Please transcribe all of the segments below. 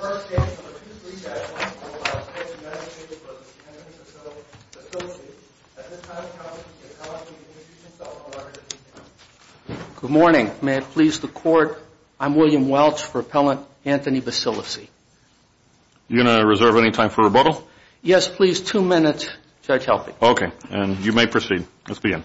Good morning. May it please the Court, I'm William Welch for Appellant Anthony Basilici. You going to reserve any time for rebuttal? Yes, please. Two minutes. Judge, help me. Okay. And you may proceed. Let's begin.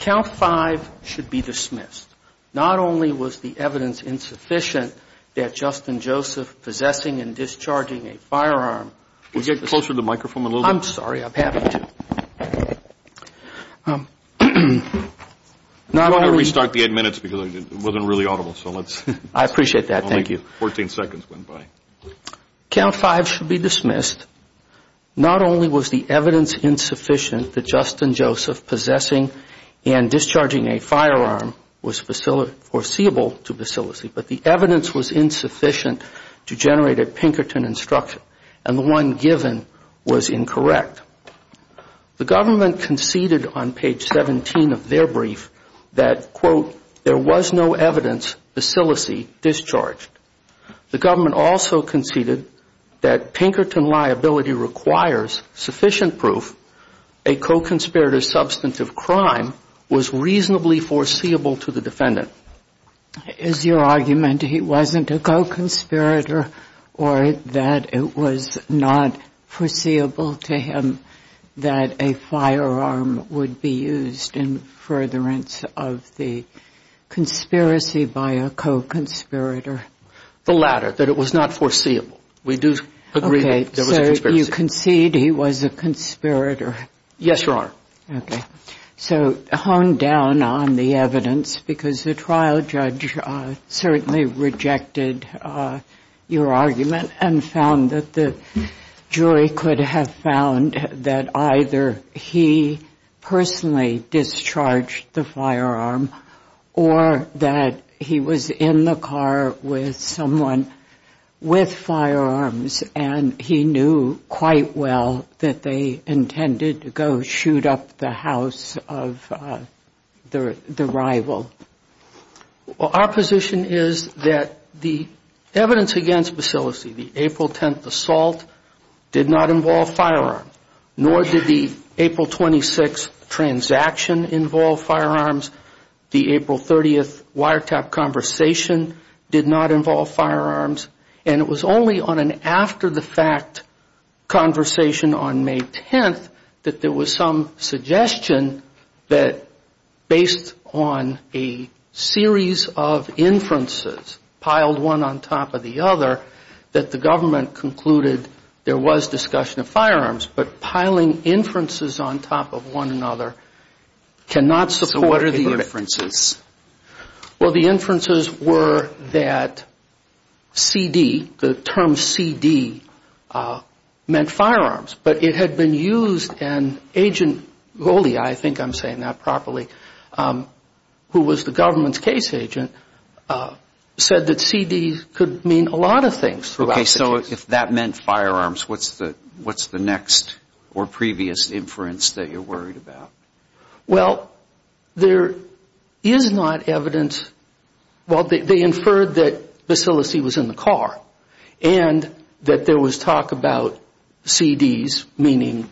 Count five should be dismissed. Not only was the evidence insufficient that Justin Joseph possessing and discharging a firearm Could you get closer to the microphone a little bit? I'm sorry. I'm happy to. I'm going to restart the eight minutes because it wasn't really audible. I appreciate that. Thank you. Only 14 seconds went by. Count five should be dismissed. Not only was the evidence insufficient that Justin Joseph possessing and discharging a firearm Was foreseeable to Basilici, but the evidence was insufficient to generate a Pinkerton instruction. And the one given was incorrect. The government conceded on page 17 of their brief that, quote, there was no evidence Basilici discharged. The government also conceded that Pinkerton liability requires sufficient proof a co-conspirator's substantive crime Was reasonably foreseeable to the defendant. Is your argument he wasn't a co-conspirator or that it was not foreseeable to him That a firearm would be used in furtherance of the conspiracy by a co-conspirator? The latter, that it was not foreseeable. We do agree that there was a conspiracy. Okay. So you concede he was a conspirator? Yes, Your Honor. Okay. So hone down on the evidence because the trial judge certainly rejected your argument And found that the jury could have found that either he personally discharged the firearm Or that he was in the car with someone with firearms And he knew quite well that they intended to go shoot up the house of the rival. Well, our position is that the evidence against Basilici, the April 10th assault, did not involve firearms. Nor did the April 26th transaction involve firearms. The April 30th wiretap conversation did not involve firearms. And it was only on an after-the-fact conversation on May 10th that there was some suggestion That based on a series of inferences, piled one on top of the other, That the government concluded there was discussion of firearms. But piling inferences on top of one another cannot support a verdict. So what are the inferences? Well, the inferences were that CD, the term CD, meant firearms. But it had been used and Agent Goli, I think I'm saying that properly, Who was the government's case agent, said that CD could mean a lot of things. Okay. So if that meant firearms, what's the next or previous inference that you're worried about? Well, there is not evidence. Well, they inferred that Basilici was in the car. And that there was talk about CDs meaning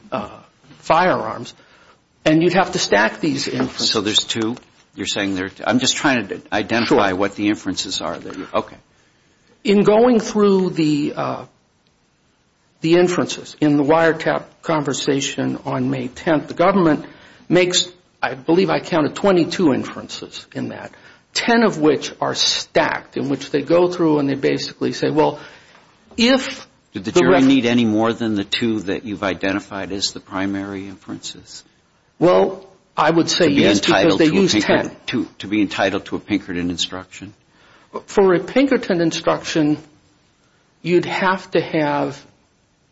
firearms. And you'd have to stack these inferences. So there's two? You're saying there's two? I'm just trying to identify what the inferences are there. Okay. In going through the inferences in the wiretap conversation on May 10th, The government makes, I believe I counted, 22 inferences in that. Ten of which are stacked, in which they go through and they basically say, well, if the reference Did the jury need any more than the two that you've identified as the primary inferences? Well, I would say yes, because they used ten. To be entitled to a Pinkerton instruction? For a Pinkerton instruction, you'd have to have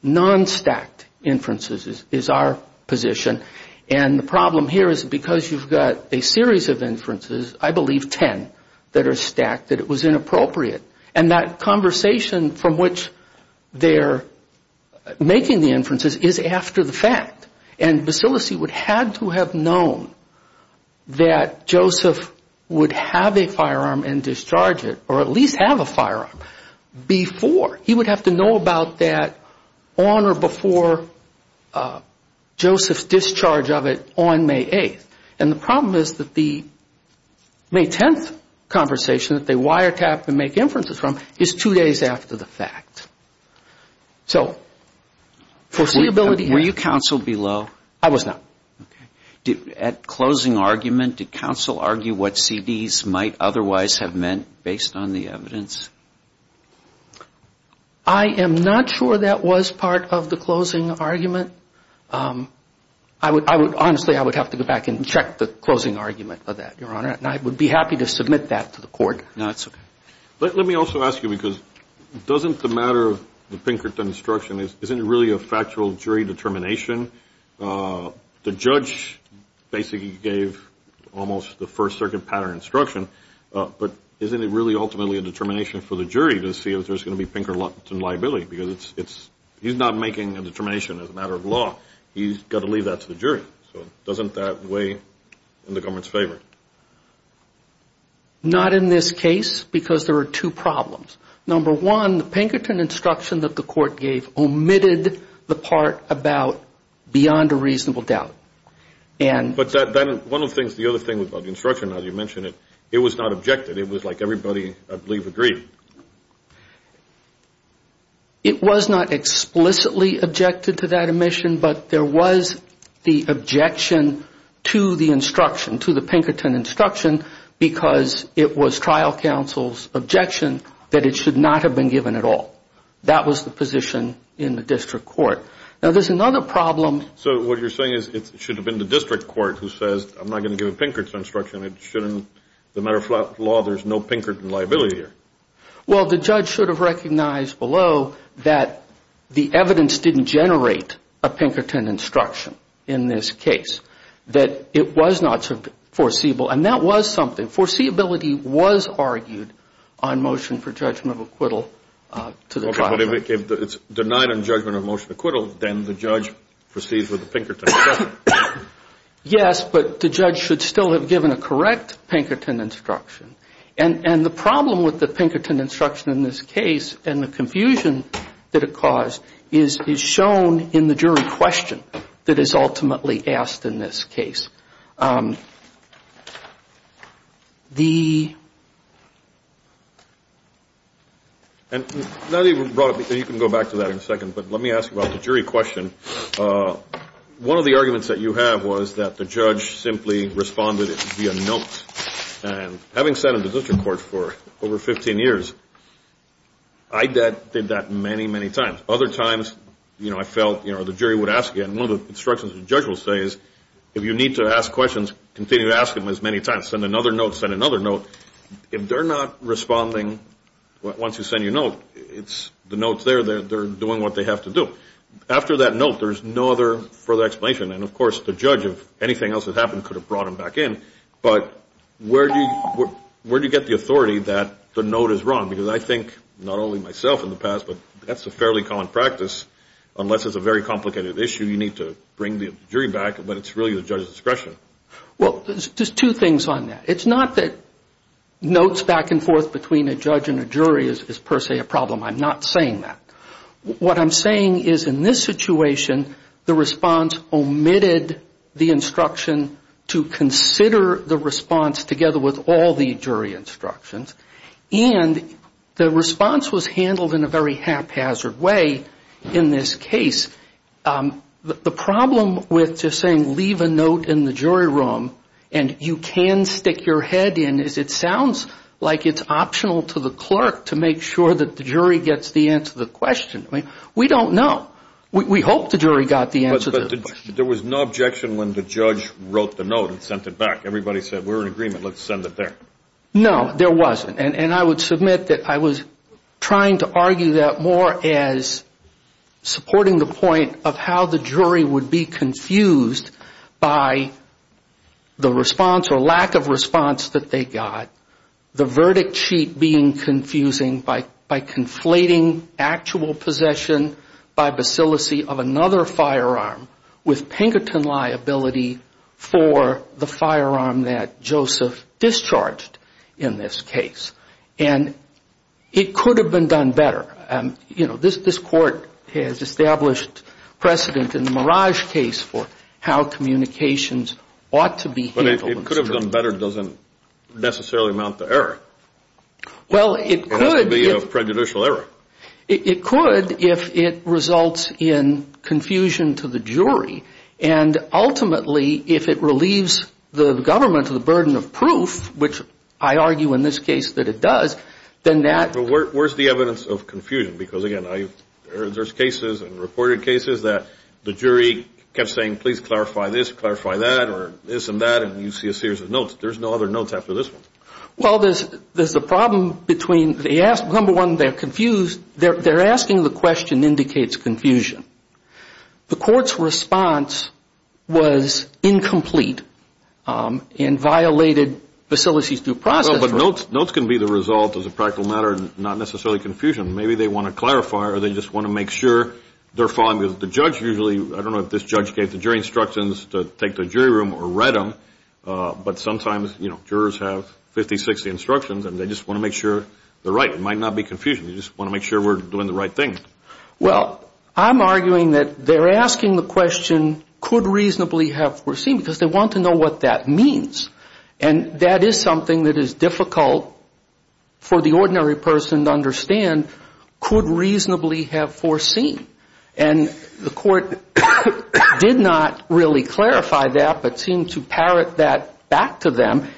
non-stacked inferences, is our position. And the problem here is because you've got a series of inferences, I believe ten, that are stacked, That it was inappropriate. And that conversation from which they're making the inferences is after the fact. And Bacillus would have to have known that Joseph would have a firearm and discharge it, Or at least have a firearm, before. He would have to know about that on or before Joseph's discharge of it on May 8th. And the problem is that the May 10th conversation that they wiretap and make inferences from Is two days after the fact. So foreseeability Were you counseled below? I was not. At closing argument, did counsel argue what CDs might otherwise have meant based on the evidence? I am not sure that was part of the closing argument. Honestly, I would have to go back and check the closing argument for that, Your Honor. And I would be happy to submit that to the court. No, that's okay. Let me also ask you, because doesn't the matter of the Pinkerton instruction, Isn't it really a factual jury determination? The judge basically gave almost the first circuit pattern instruction, But isn't it really ultimately a determination for the jury to see if there's going to be Pinkerton liability? Because he's not making a determination as a matter of law. He's got to leave that to the jury. So doesn't that weigh in the government's favor? Not in this case, because there are two problems. Number one, the Pinkerton instruction that the court gave omitted the part about beyond a reasonable doubt. But one of the things, the other thing about the instruction, as you mentioned, it was not objected. It was like everybody, I believe, agreed. It was not explicitly objected to that omission, But there was the objection to the instruction, to the Pinkerton instruction, Because it was trial counsel's objection that it should not have been given at all. That was the position in the district court. Now, there's another problem. So what you're saying is it should have been the district court who says, I'm not going to give a Pinkerton instruction. It shouldn't, as a matter of law, there's no Pinkerton liability here. Well, the judge should have recognized below that the evidence didn't generate a Pinkerton instruction in this case. That it was not foreseeable. And that was something. Foreseeability was argued on motion for judgment of acquittal to the trial. Okay, but if it's denied on judgment of motion acquittal, then the judge proceeds with the Pinkerton. Yes, but the judge should still have given a correct Pinkerton instruction. And the problem with the Pinkerton instruction in this case and the confusion that it caused is shown in the jury question that is ultimately asked in this case. The. And you can go back to that in a second, but let me ask about the jury question. One of the arguments that you have was that the judge simply responded via note. And having sat in the district court for over 15 years, I did that many, many times. Other times, you know, I felt, you know, the jury would ask you. And one of the instructions the judge will say is if you need to ask questions, continue to ask them as many times. Send another note. Send another note. If they're not responding once you send your note, it's the note's there. They're doing what they have to do. After that note, there's no other further explanation. And, of course, the judge, if anything else had happened, could have brought them back in. But where do you get the authority that the note is wrong? Because I think not only myself in the past, but that's a fairly common practice. Unless it's a very complicated issue, you need to bring the jury back. But it's really the judge's discretion. Well, there's two things on that. It's not that notes back and forth between a judge and a jury is per se a problem. I'm not saying that. What I'm saying is in this situation, the response omitted the instruction to consider the response together with all the jury instructions. And the response was handled in a very haphazard way in this case. The problem with just saying, leave a note in the jury room and you can stick your head in, is it sounds like it's optional to the clerk to make sure that the jury gets the answer to the question. I mean, we don't know. We hope the jury got the answer to the question. But there was no objection when the judge wrote the note and sent it back. Everybody said, we're in agreement. Let's send it there. No, there wasn't. And I would submit that I was trying to argue that more as supporting the point of how the jury would be confused by the response or lack of response that they got. The verdict sheet being confusing by conflating actual possession by bacillacy of another firearm with Pinkerton liability for the firearm that Joseph discharged in this case. And it could have been done better. You know, this court has established precedent in the Mirage case for how communications ought to be handled. But it could have done better doesn't necessarily amount to error. Well, it could. It has to be a prejudicial error. It could if it results in confusion to the jury. And ultimately, if it relieves the government of the burden of proof, which I argue in this case that it does, then that Where's the evidence of confusion? Because, again, there's cases and reported cases that the jury kept saying, please clarify this, clarify that, or this and that, and you see a series of notes. There's no other notes after this one. Well, there's a problem between, number one, they're confused. They're asking the question indicates confusion. The court's response was incomplete and violated bacillacy's due process. But notes can be the result as a practical matter and not necessarily confusion. Maybe they want to clarify or they just want to make sure they're following. The judge usually, I don't know if this judge gave the jury instructions to take the jury room or read them, but sometimes, you know, jurors have 50, 60 instructions and they just want to make sure they're right. It might not be confusion. They just want to make sure we're doing the right thing. Well, I'm arguing that they're asking the question could reasonably have foreseen because they want to know what that means. And that is something that is difficult for the ordinary person to understand, could reasonably have foreseen. And the court did not really clarify that but seemed to parrot that back to them.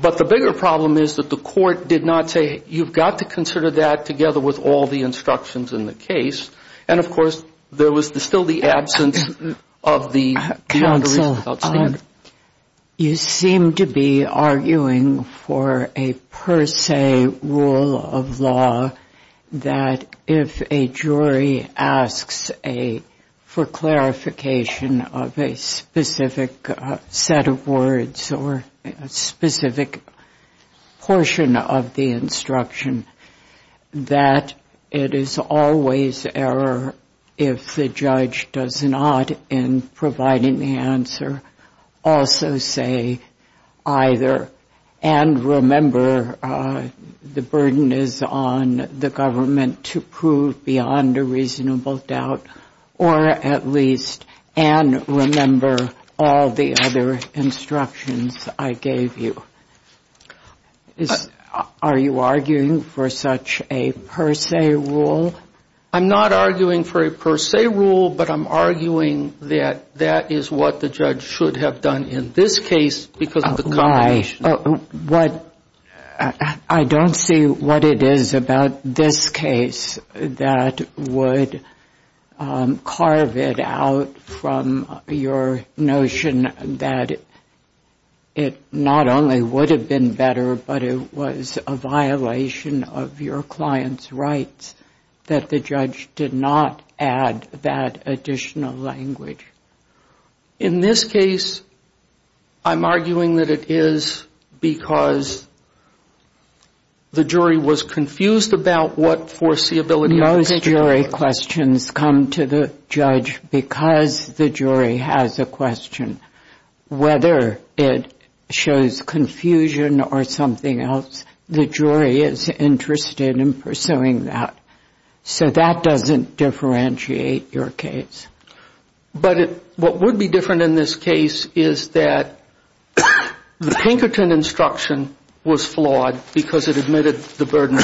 But the bigger problem is that the court did not say you've got to consider that together with all the instructions in the case. And, of course, there was still the absence of the beyond the reasonable doubt standard. You seem to be arguing for a per se rule of law that if a jury asks for clarification of a specific set of words or a specific portion of the instruction, that it is always error if the judge does not, in providing the answer, also say either and remember the burden is on the government to prove beyond a reasonable doubt or at least and remember all the other instructions I gave you. Are you arguing for such a per se rule? I'm not arguing for a per se rule, but I'm arguing that that is what the judge should have done in this case because of the I don't see what it is about this case that would carve it out from your notion that it not only would have been better, but it was a violation of your client's rights that the judge did not add that additional language. In this case, I'm arguing that it is because the jury was confused about what foreseeability of the question was. Most jury questions come to the judge because the jury has a question. Whether it shows confusion or something else, the jury is interested in pursuing that. So that doesn't differentiate your case. But what would be different in this case is that the Pinkerton instruction was flawed because it admitted the burden.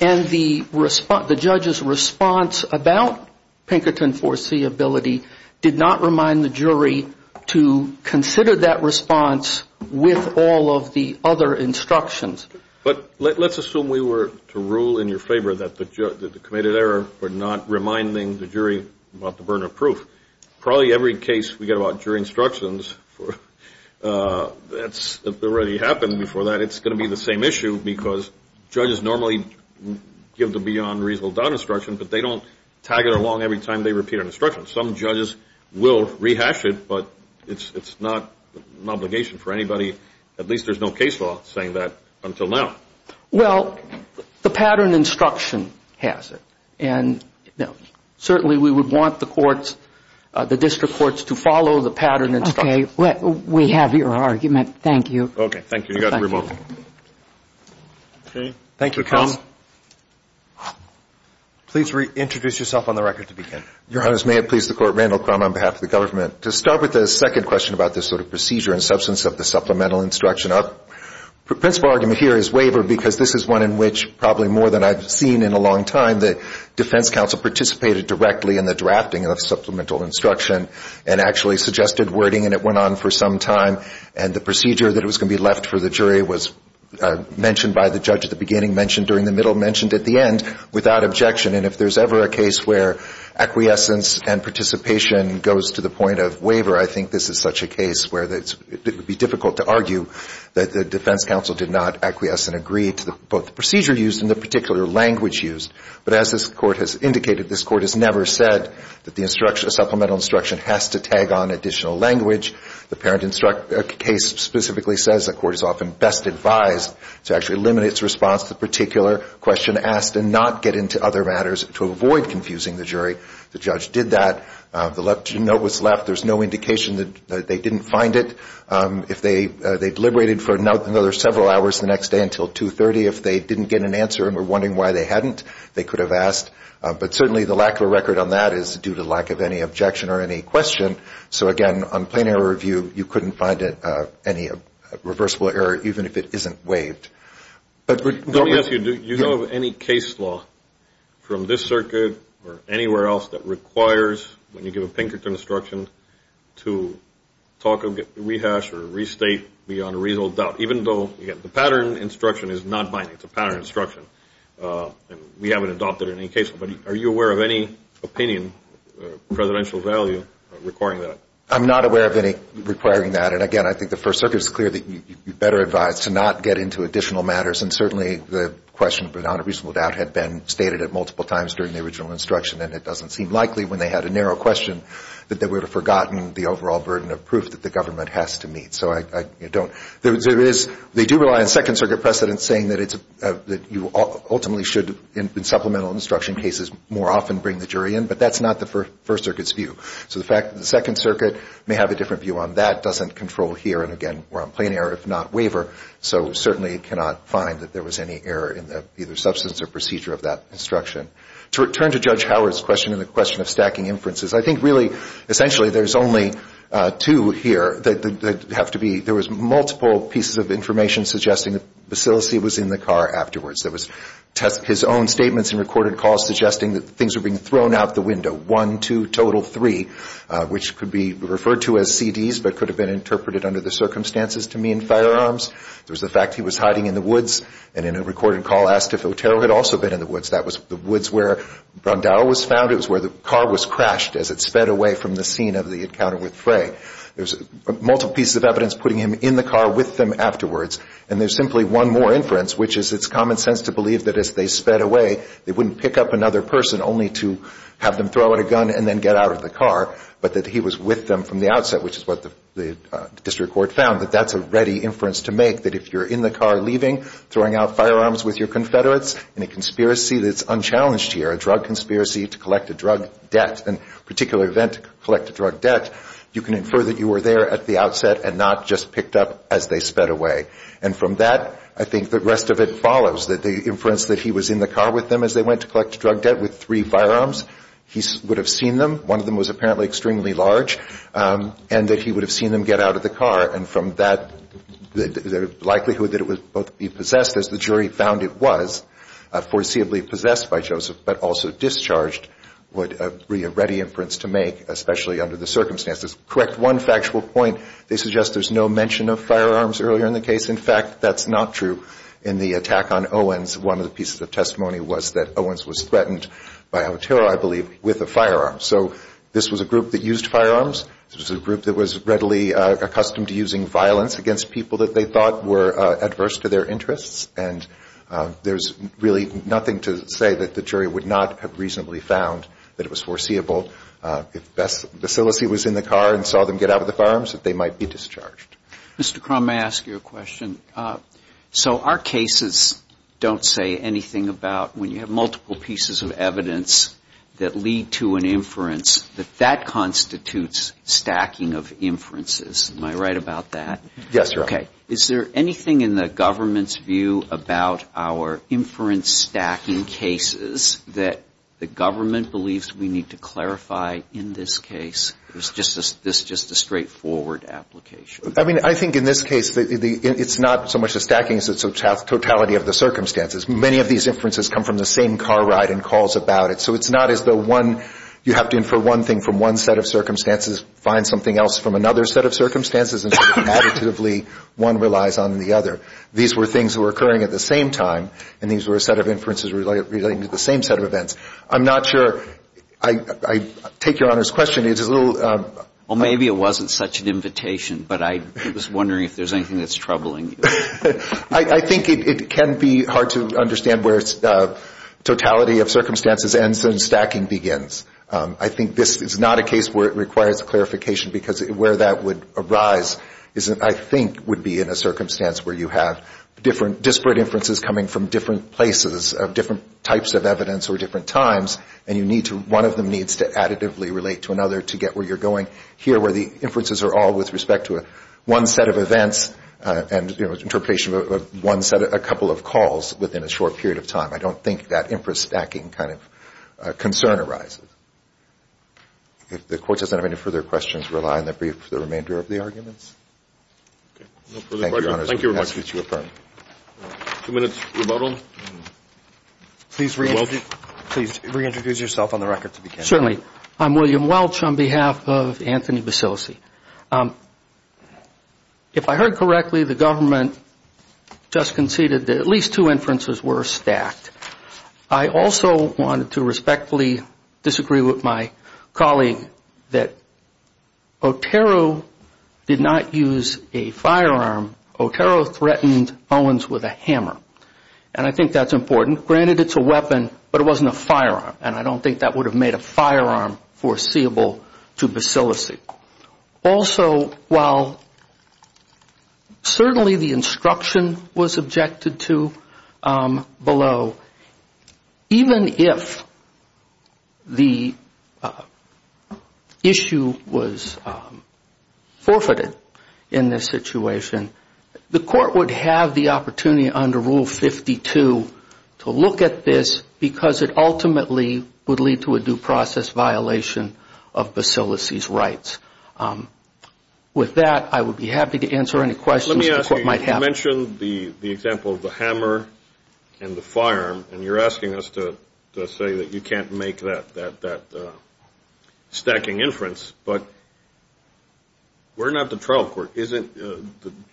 And the judge's response about Pinkerton foreseeability did not remind the jury of the burden. So I would like to consider that response with all of the other instructions. But let's assume we were to rule in your favor that the committed error were not reminding the jury about the burden of proof. Probably every case we get about jury instructions, that's already happened before that. It's going to be the same issue because judges normally give the beyond reasonable doubt instruction, but they don't tag it along every time they repeat an instruction. Some judges will rehash it, but it's not an obligation for anybody. At least there's no case law saying that until now. Well, the pattern instruction has it. And certainly we would want the courts, the district courts to follow the pattern instruction. Okay. We have your argument. Thank you. Okay. Thank you. You got the remote. Thank you, counsel. Please introduce yourself on the record to begin. Your Honors, may it please the Court, Randall Crum on behalf of the government. To start with the second question about this sort of procedure and substance of the supplemental instruction, our principal argument here is waiver because this is one in which probably more than I've seen in a long time, the defense counsel participated directly in the drafting of supplemental instruction and actually suggested wording and it went on for some time. And the procedure that was going to be left for the jury was mentioned by the judge at the beginning, mentioned during the middle, mentioned at the end without objection. And if there's ever a case where acquiescence and participation goes to the point of waiver, I think this is such a case where it would be difficult to argue that the defense counsel did not acquiesce and agree to both the procedure used and the particular language used. But as this Court has indicated, this Court has never said that the supplemental instruction has to tag on additional language. The parent case specifically says the Court is often best advised to actually limit its response to the particular question asked and not get into other matters to avoid confusing the jury. The judge did that. The note was left. There's no indication that they didn't find it. If they deliberated for another several hours the next day until 2.30, if they didn't get an answer and were wondering why they hadn't, they could have asked. But certainly the lack of a record on that is due to lack of any objection or any question. So, again, on plain error review, you couldn't find any reversible error even if it isn't waived. Let me ask you, do you know of any case law from this circuit or anywhere else that requires, when you give a Pinkerton instruction, to talk of rehash or restate beyond a reasonable doubt, even though the pattern instruction is not binding? It's a pattern instruction. We haven't adopted it in any case. But are you aware of any opinion, presidential value, requiring that? I'm not aware of any requiring that. And, again, I think the First Circuit is clear that you're better advised to not get into additional matters. And certainly the question beyond a reasonable doubt had been stated multiple times during the original instruction, and it doesn't seem likely when they had a narrow question that they would have forgotten the overall burden of proof that the government has to meet. They do rely on Second Circuit precedent saying that you ultimately should, in supplemental instruction cases, more often bring the jury in. But that's not the First Circuit's view. So the fact that the Second Circuit may have a different view on that doesn't control here, and, again, we're on plain error if not waiver. So certainly it cannot find that there was any error in the either substance or procedure of that instruction. To return to Judge Howard's question and the question of stacking inferences, I think really essentially there's only two here that have to be – there was multiple pieces of information suggesting that Basilici was in the car afterwards. There was his own statements and recorded calls suggesting that things were being thrown out the window. One, two, total three, which could be referred to as CDs but could have been interpreted under the circumstances to mean firearms. There was the fact he was hiding in the woods, and in a recorded call asked if Otero had also been in the woods. That was the woods where Brandao was found. It was where the car was crashed as it sped away from the scene of the encounter with Frey. There's multiple pieces of evidence putting him in the car with them afterwards, and there's simply one more inference, which is it's common sense to believe that as they sped away, they wouldn't pick up another person only to have them throw out a gun and then get out of the car, but that he was with them from the outset, which is what the district court found, that that's a ready inference to make, that if you're in the car leaving, throwing out firearms with your Confederates in a conspiracy that's unchallenged here, a drug conspiracy to collect a drug debt, a particular event to collect a drug debt, you can infer that you were there at the outset and not just picked up as they sped away. And from that, I think the rest of it follows, that the inference that he was in the car with them as they went to collect drug debt with three firearms, he would have seen them, one of them was apparently extremely large, and that he would have seen them get out of the car, and from that, the likelihood that it would both be possessed, as the jury found it was, foreseeably possessed by Joseph, but also discharged, would be a ready inference to make, especially under the circumstances. To correct one factual point, they suggest there's no mention of firearms earlier in the case. In fact, that's not true in the attack on Owens. One of the pieces of testimony was that Owens was threatened by Otero, I believe, with a firearm. So this was a group that used firearms. This was a group that was readily accustomed to using violence against people that they thought were adverse to their interests, and there's really nothing to say that the jury would not have reasonably found that it was foreseeable. If Bacillus was in the car and saw them get out with the firearms, that they might be discharged. Mr. Crum, may I ask you a question? So our cases don't say anything about when you have multiple pieces of evidence that lead to an inference, that that constitutes stacking of inferences. Am I right about that? Yes, Your Honor. Okay. Is there anything in the government's view about our inference stacking cases that the government believes we need to clarify in this case? Or is this just a straightforward application? I mean, I think in this case it's not so much the stacking as it's the totality of the circumstances. Many of these inferences come from the same car ride and calls about it. So it's not as though you have to infer one thing from one set of circumstances, find something else from another set of circumstances, and additively one relies on the other. These were things that were occurring at the same time, and these were a set of inferences relating to the same set of events. I'm not sure. I take Your Honor's question. It's a little. Well, maybe it wasn't such an invitation, but I was wondering if there's anything that's troubling you. I think it can be hard to understand where totality of circumstances ends and stacking begins. I think this is not a case where it requires clarification, because where that would arise is I think would be in a circumstance where you have disparate inferences coming from different places of different types of evidence or different times, and one of them needs to additively relate to another to get where you're going. Here, where the inferences are all with respect to one set of events and interpretation of one set of a couple of calls within a short period of time, I don't think that inference stacking kind of concern arises. If the Court doesn't have any further questions, rely on the remainder of the arguments. Okay. No further questions? Thank you, Your Honor. Thank you very much. Two minutes remodeled. Please reintroduce yourself on the record to begin. Certainly. I'm William Welch on behalf of Anthony Basilisi. If I heard correctly, the government just conceded that at least two inferences were stacked. I also wanted to respectfully disagree with my colleague that Otero did not use a firearm. Otero threatened Owens with a hammer, and I think that's important. Granted, it's a weapon, but it wasn't a firearm, and I don't think that would have made a firearm foreseeable to Basilisi. Also, while certainly the instruction was objected to below, even if the issue was forfeited in this situation, the Court would have the opportunity under Rule 52 to look at this because it ultimately would lead to a due process violation of Basilisi's rights. With that, I would be happy to answer any questions the Court might have. Let me ask you, you mentioned the example of the hammer and the firearm, and you're asking us to say that you can't make that stacking inference, but we're not the trial court. Isn't the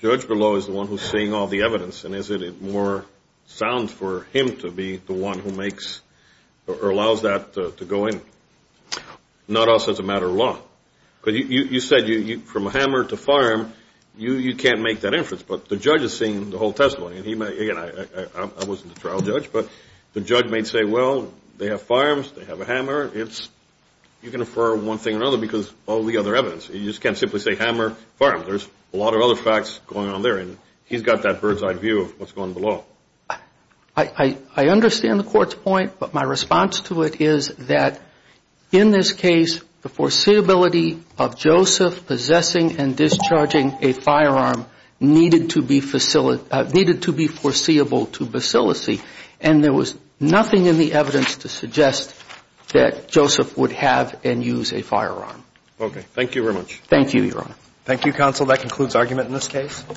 judge below is the one who's seeing all the evidence, and is it more sound for him to be the one who makes or allows that to go in, not us as a matter of law? Because you said from a hammer to firearm, you can't make that inference, but the judge is seeing the whole testimony, and again, I wasn't the trial judge, but the judge may say, well, they have firearms, they have a hammer. You can infer one thing or another because all the other evidence. You just can't simply say hammer, firearm. There's a lot of other facts going on there, and he's got that bird's-eye view of what's going below. I understand the Court's point, but my response to it is that in this case, the foreseeability of Joseph possessing and discharging a firearm needed to be foreseeable to Basilisi, and there was nothing in the evidence to suggest that Joseph would have and use a firearm. Okay. Thank you very much. Thank you, Your Honor. Thank you, Counsel. That concludes argument in this case.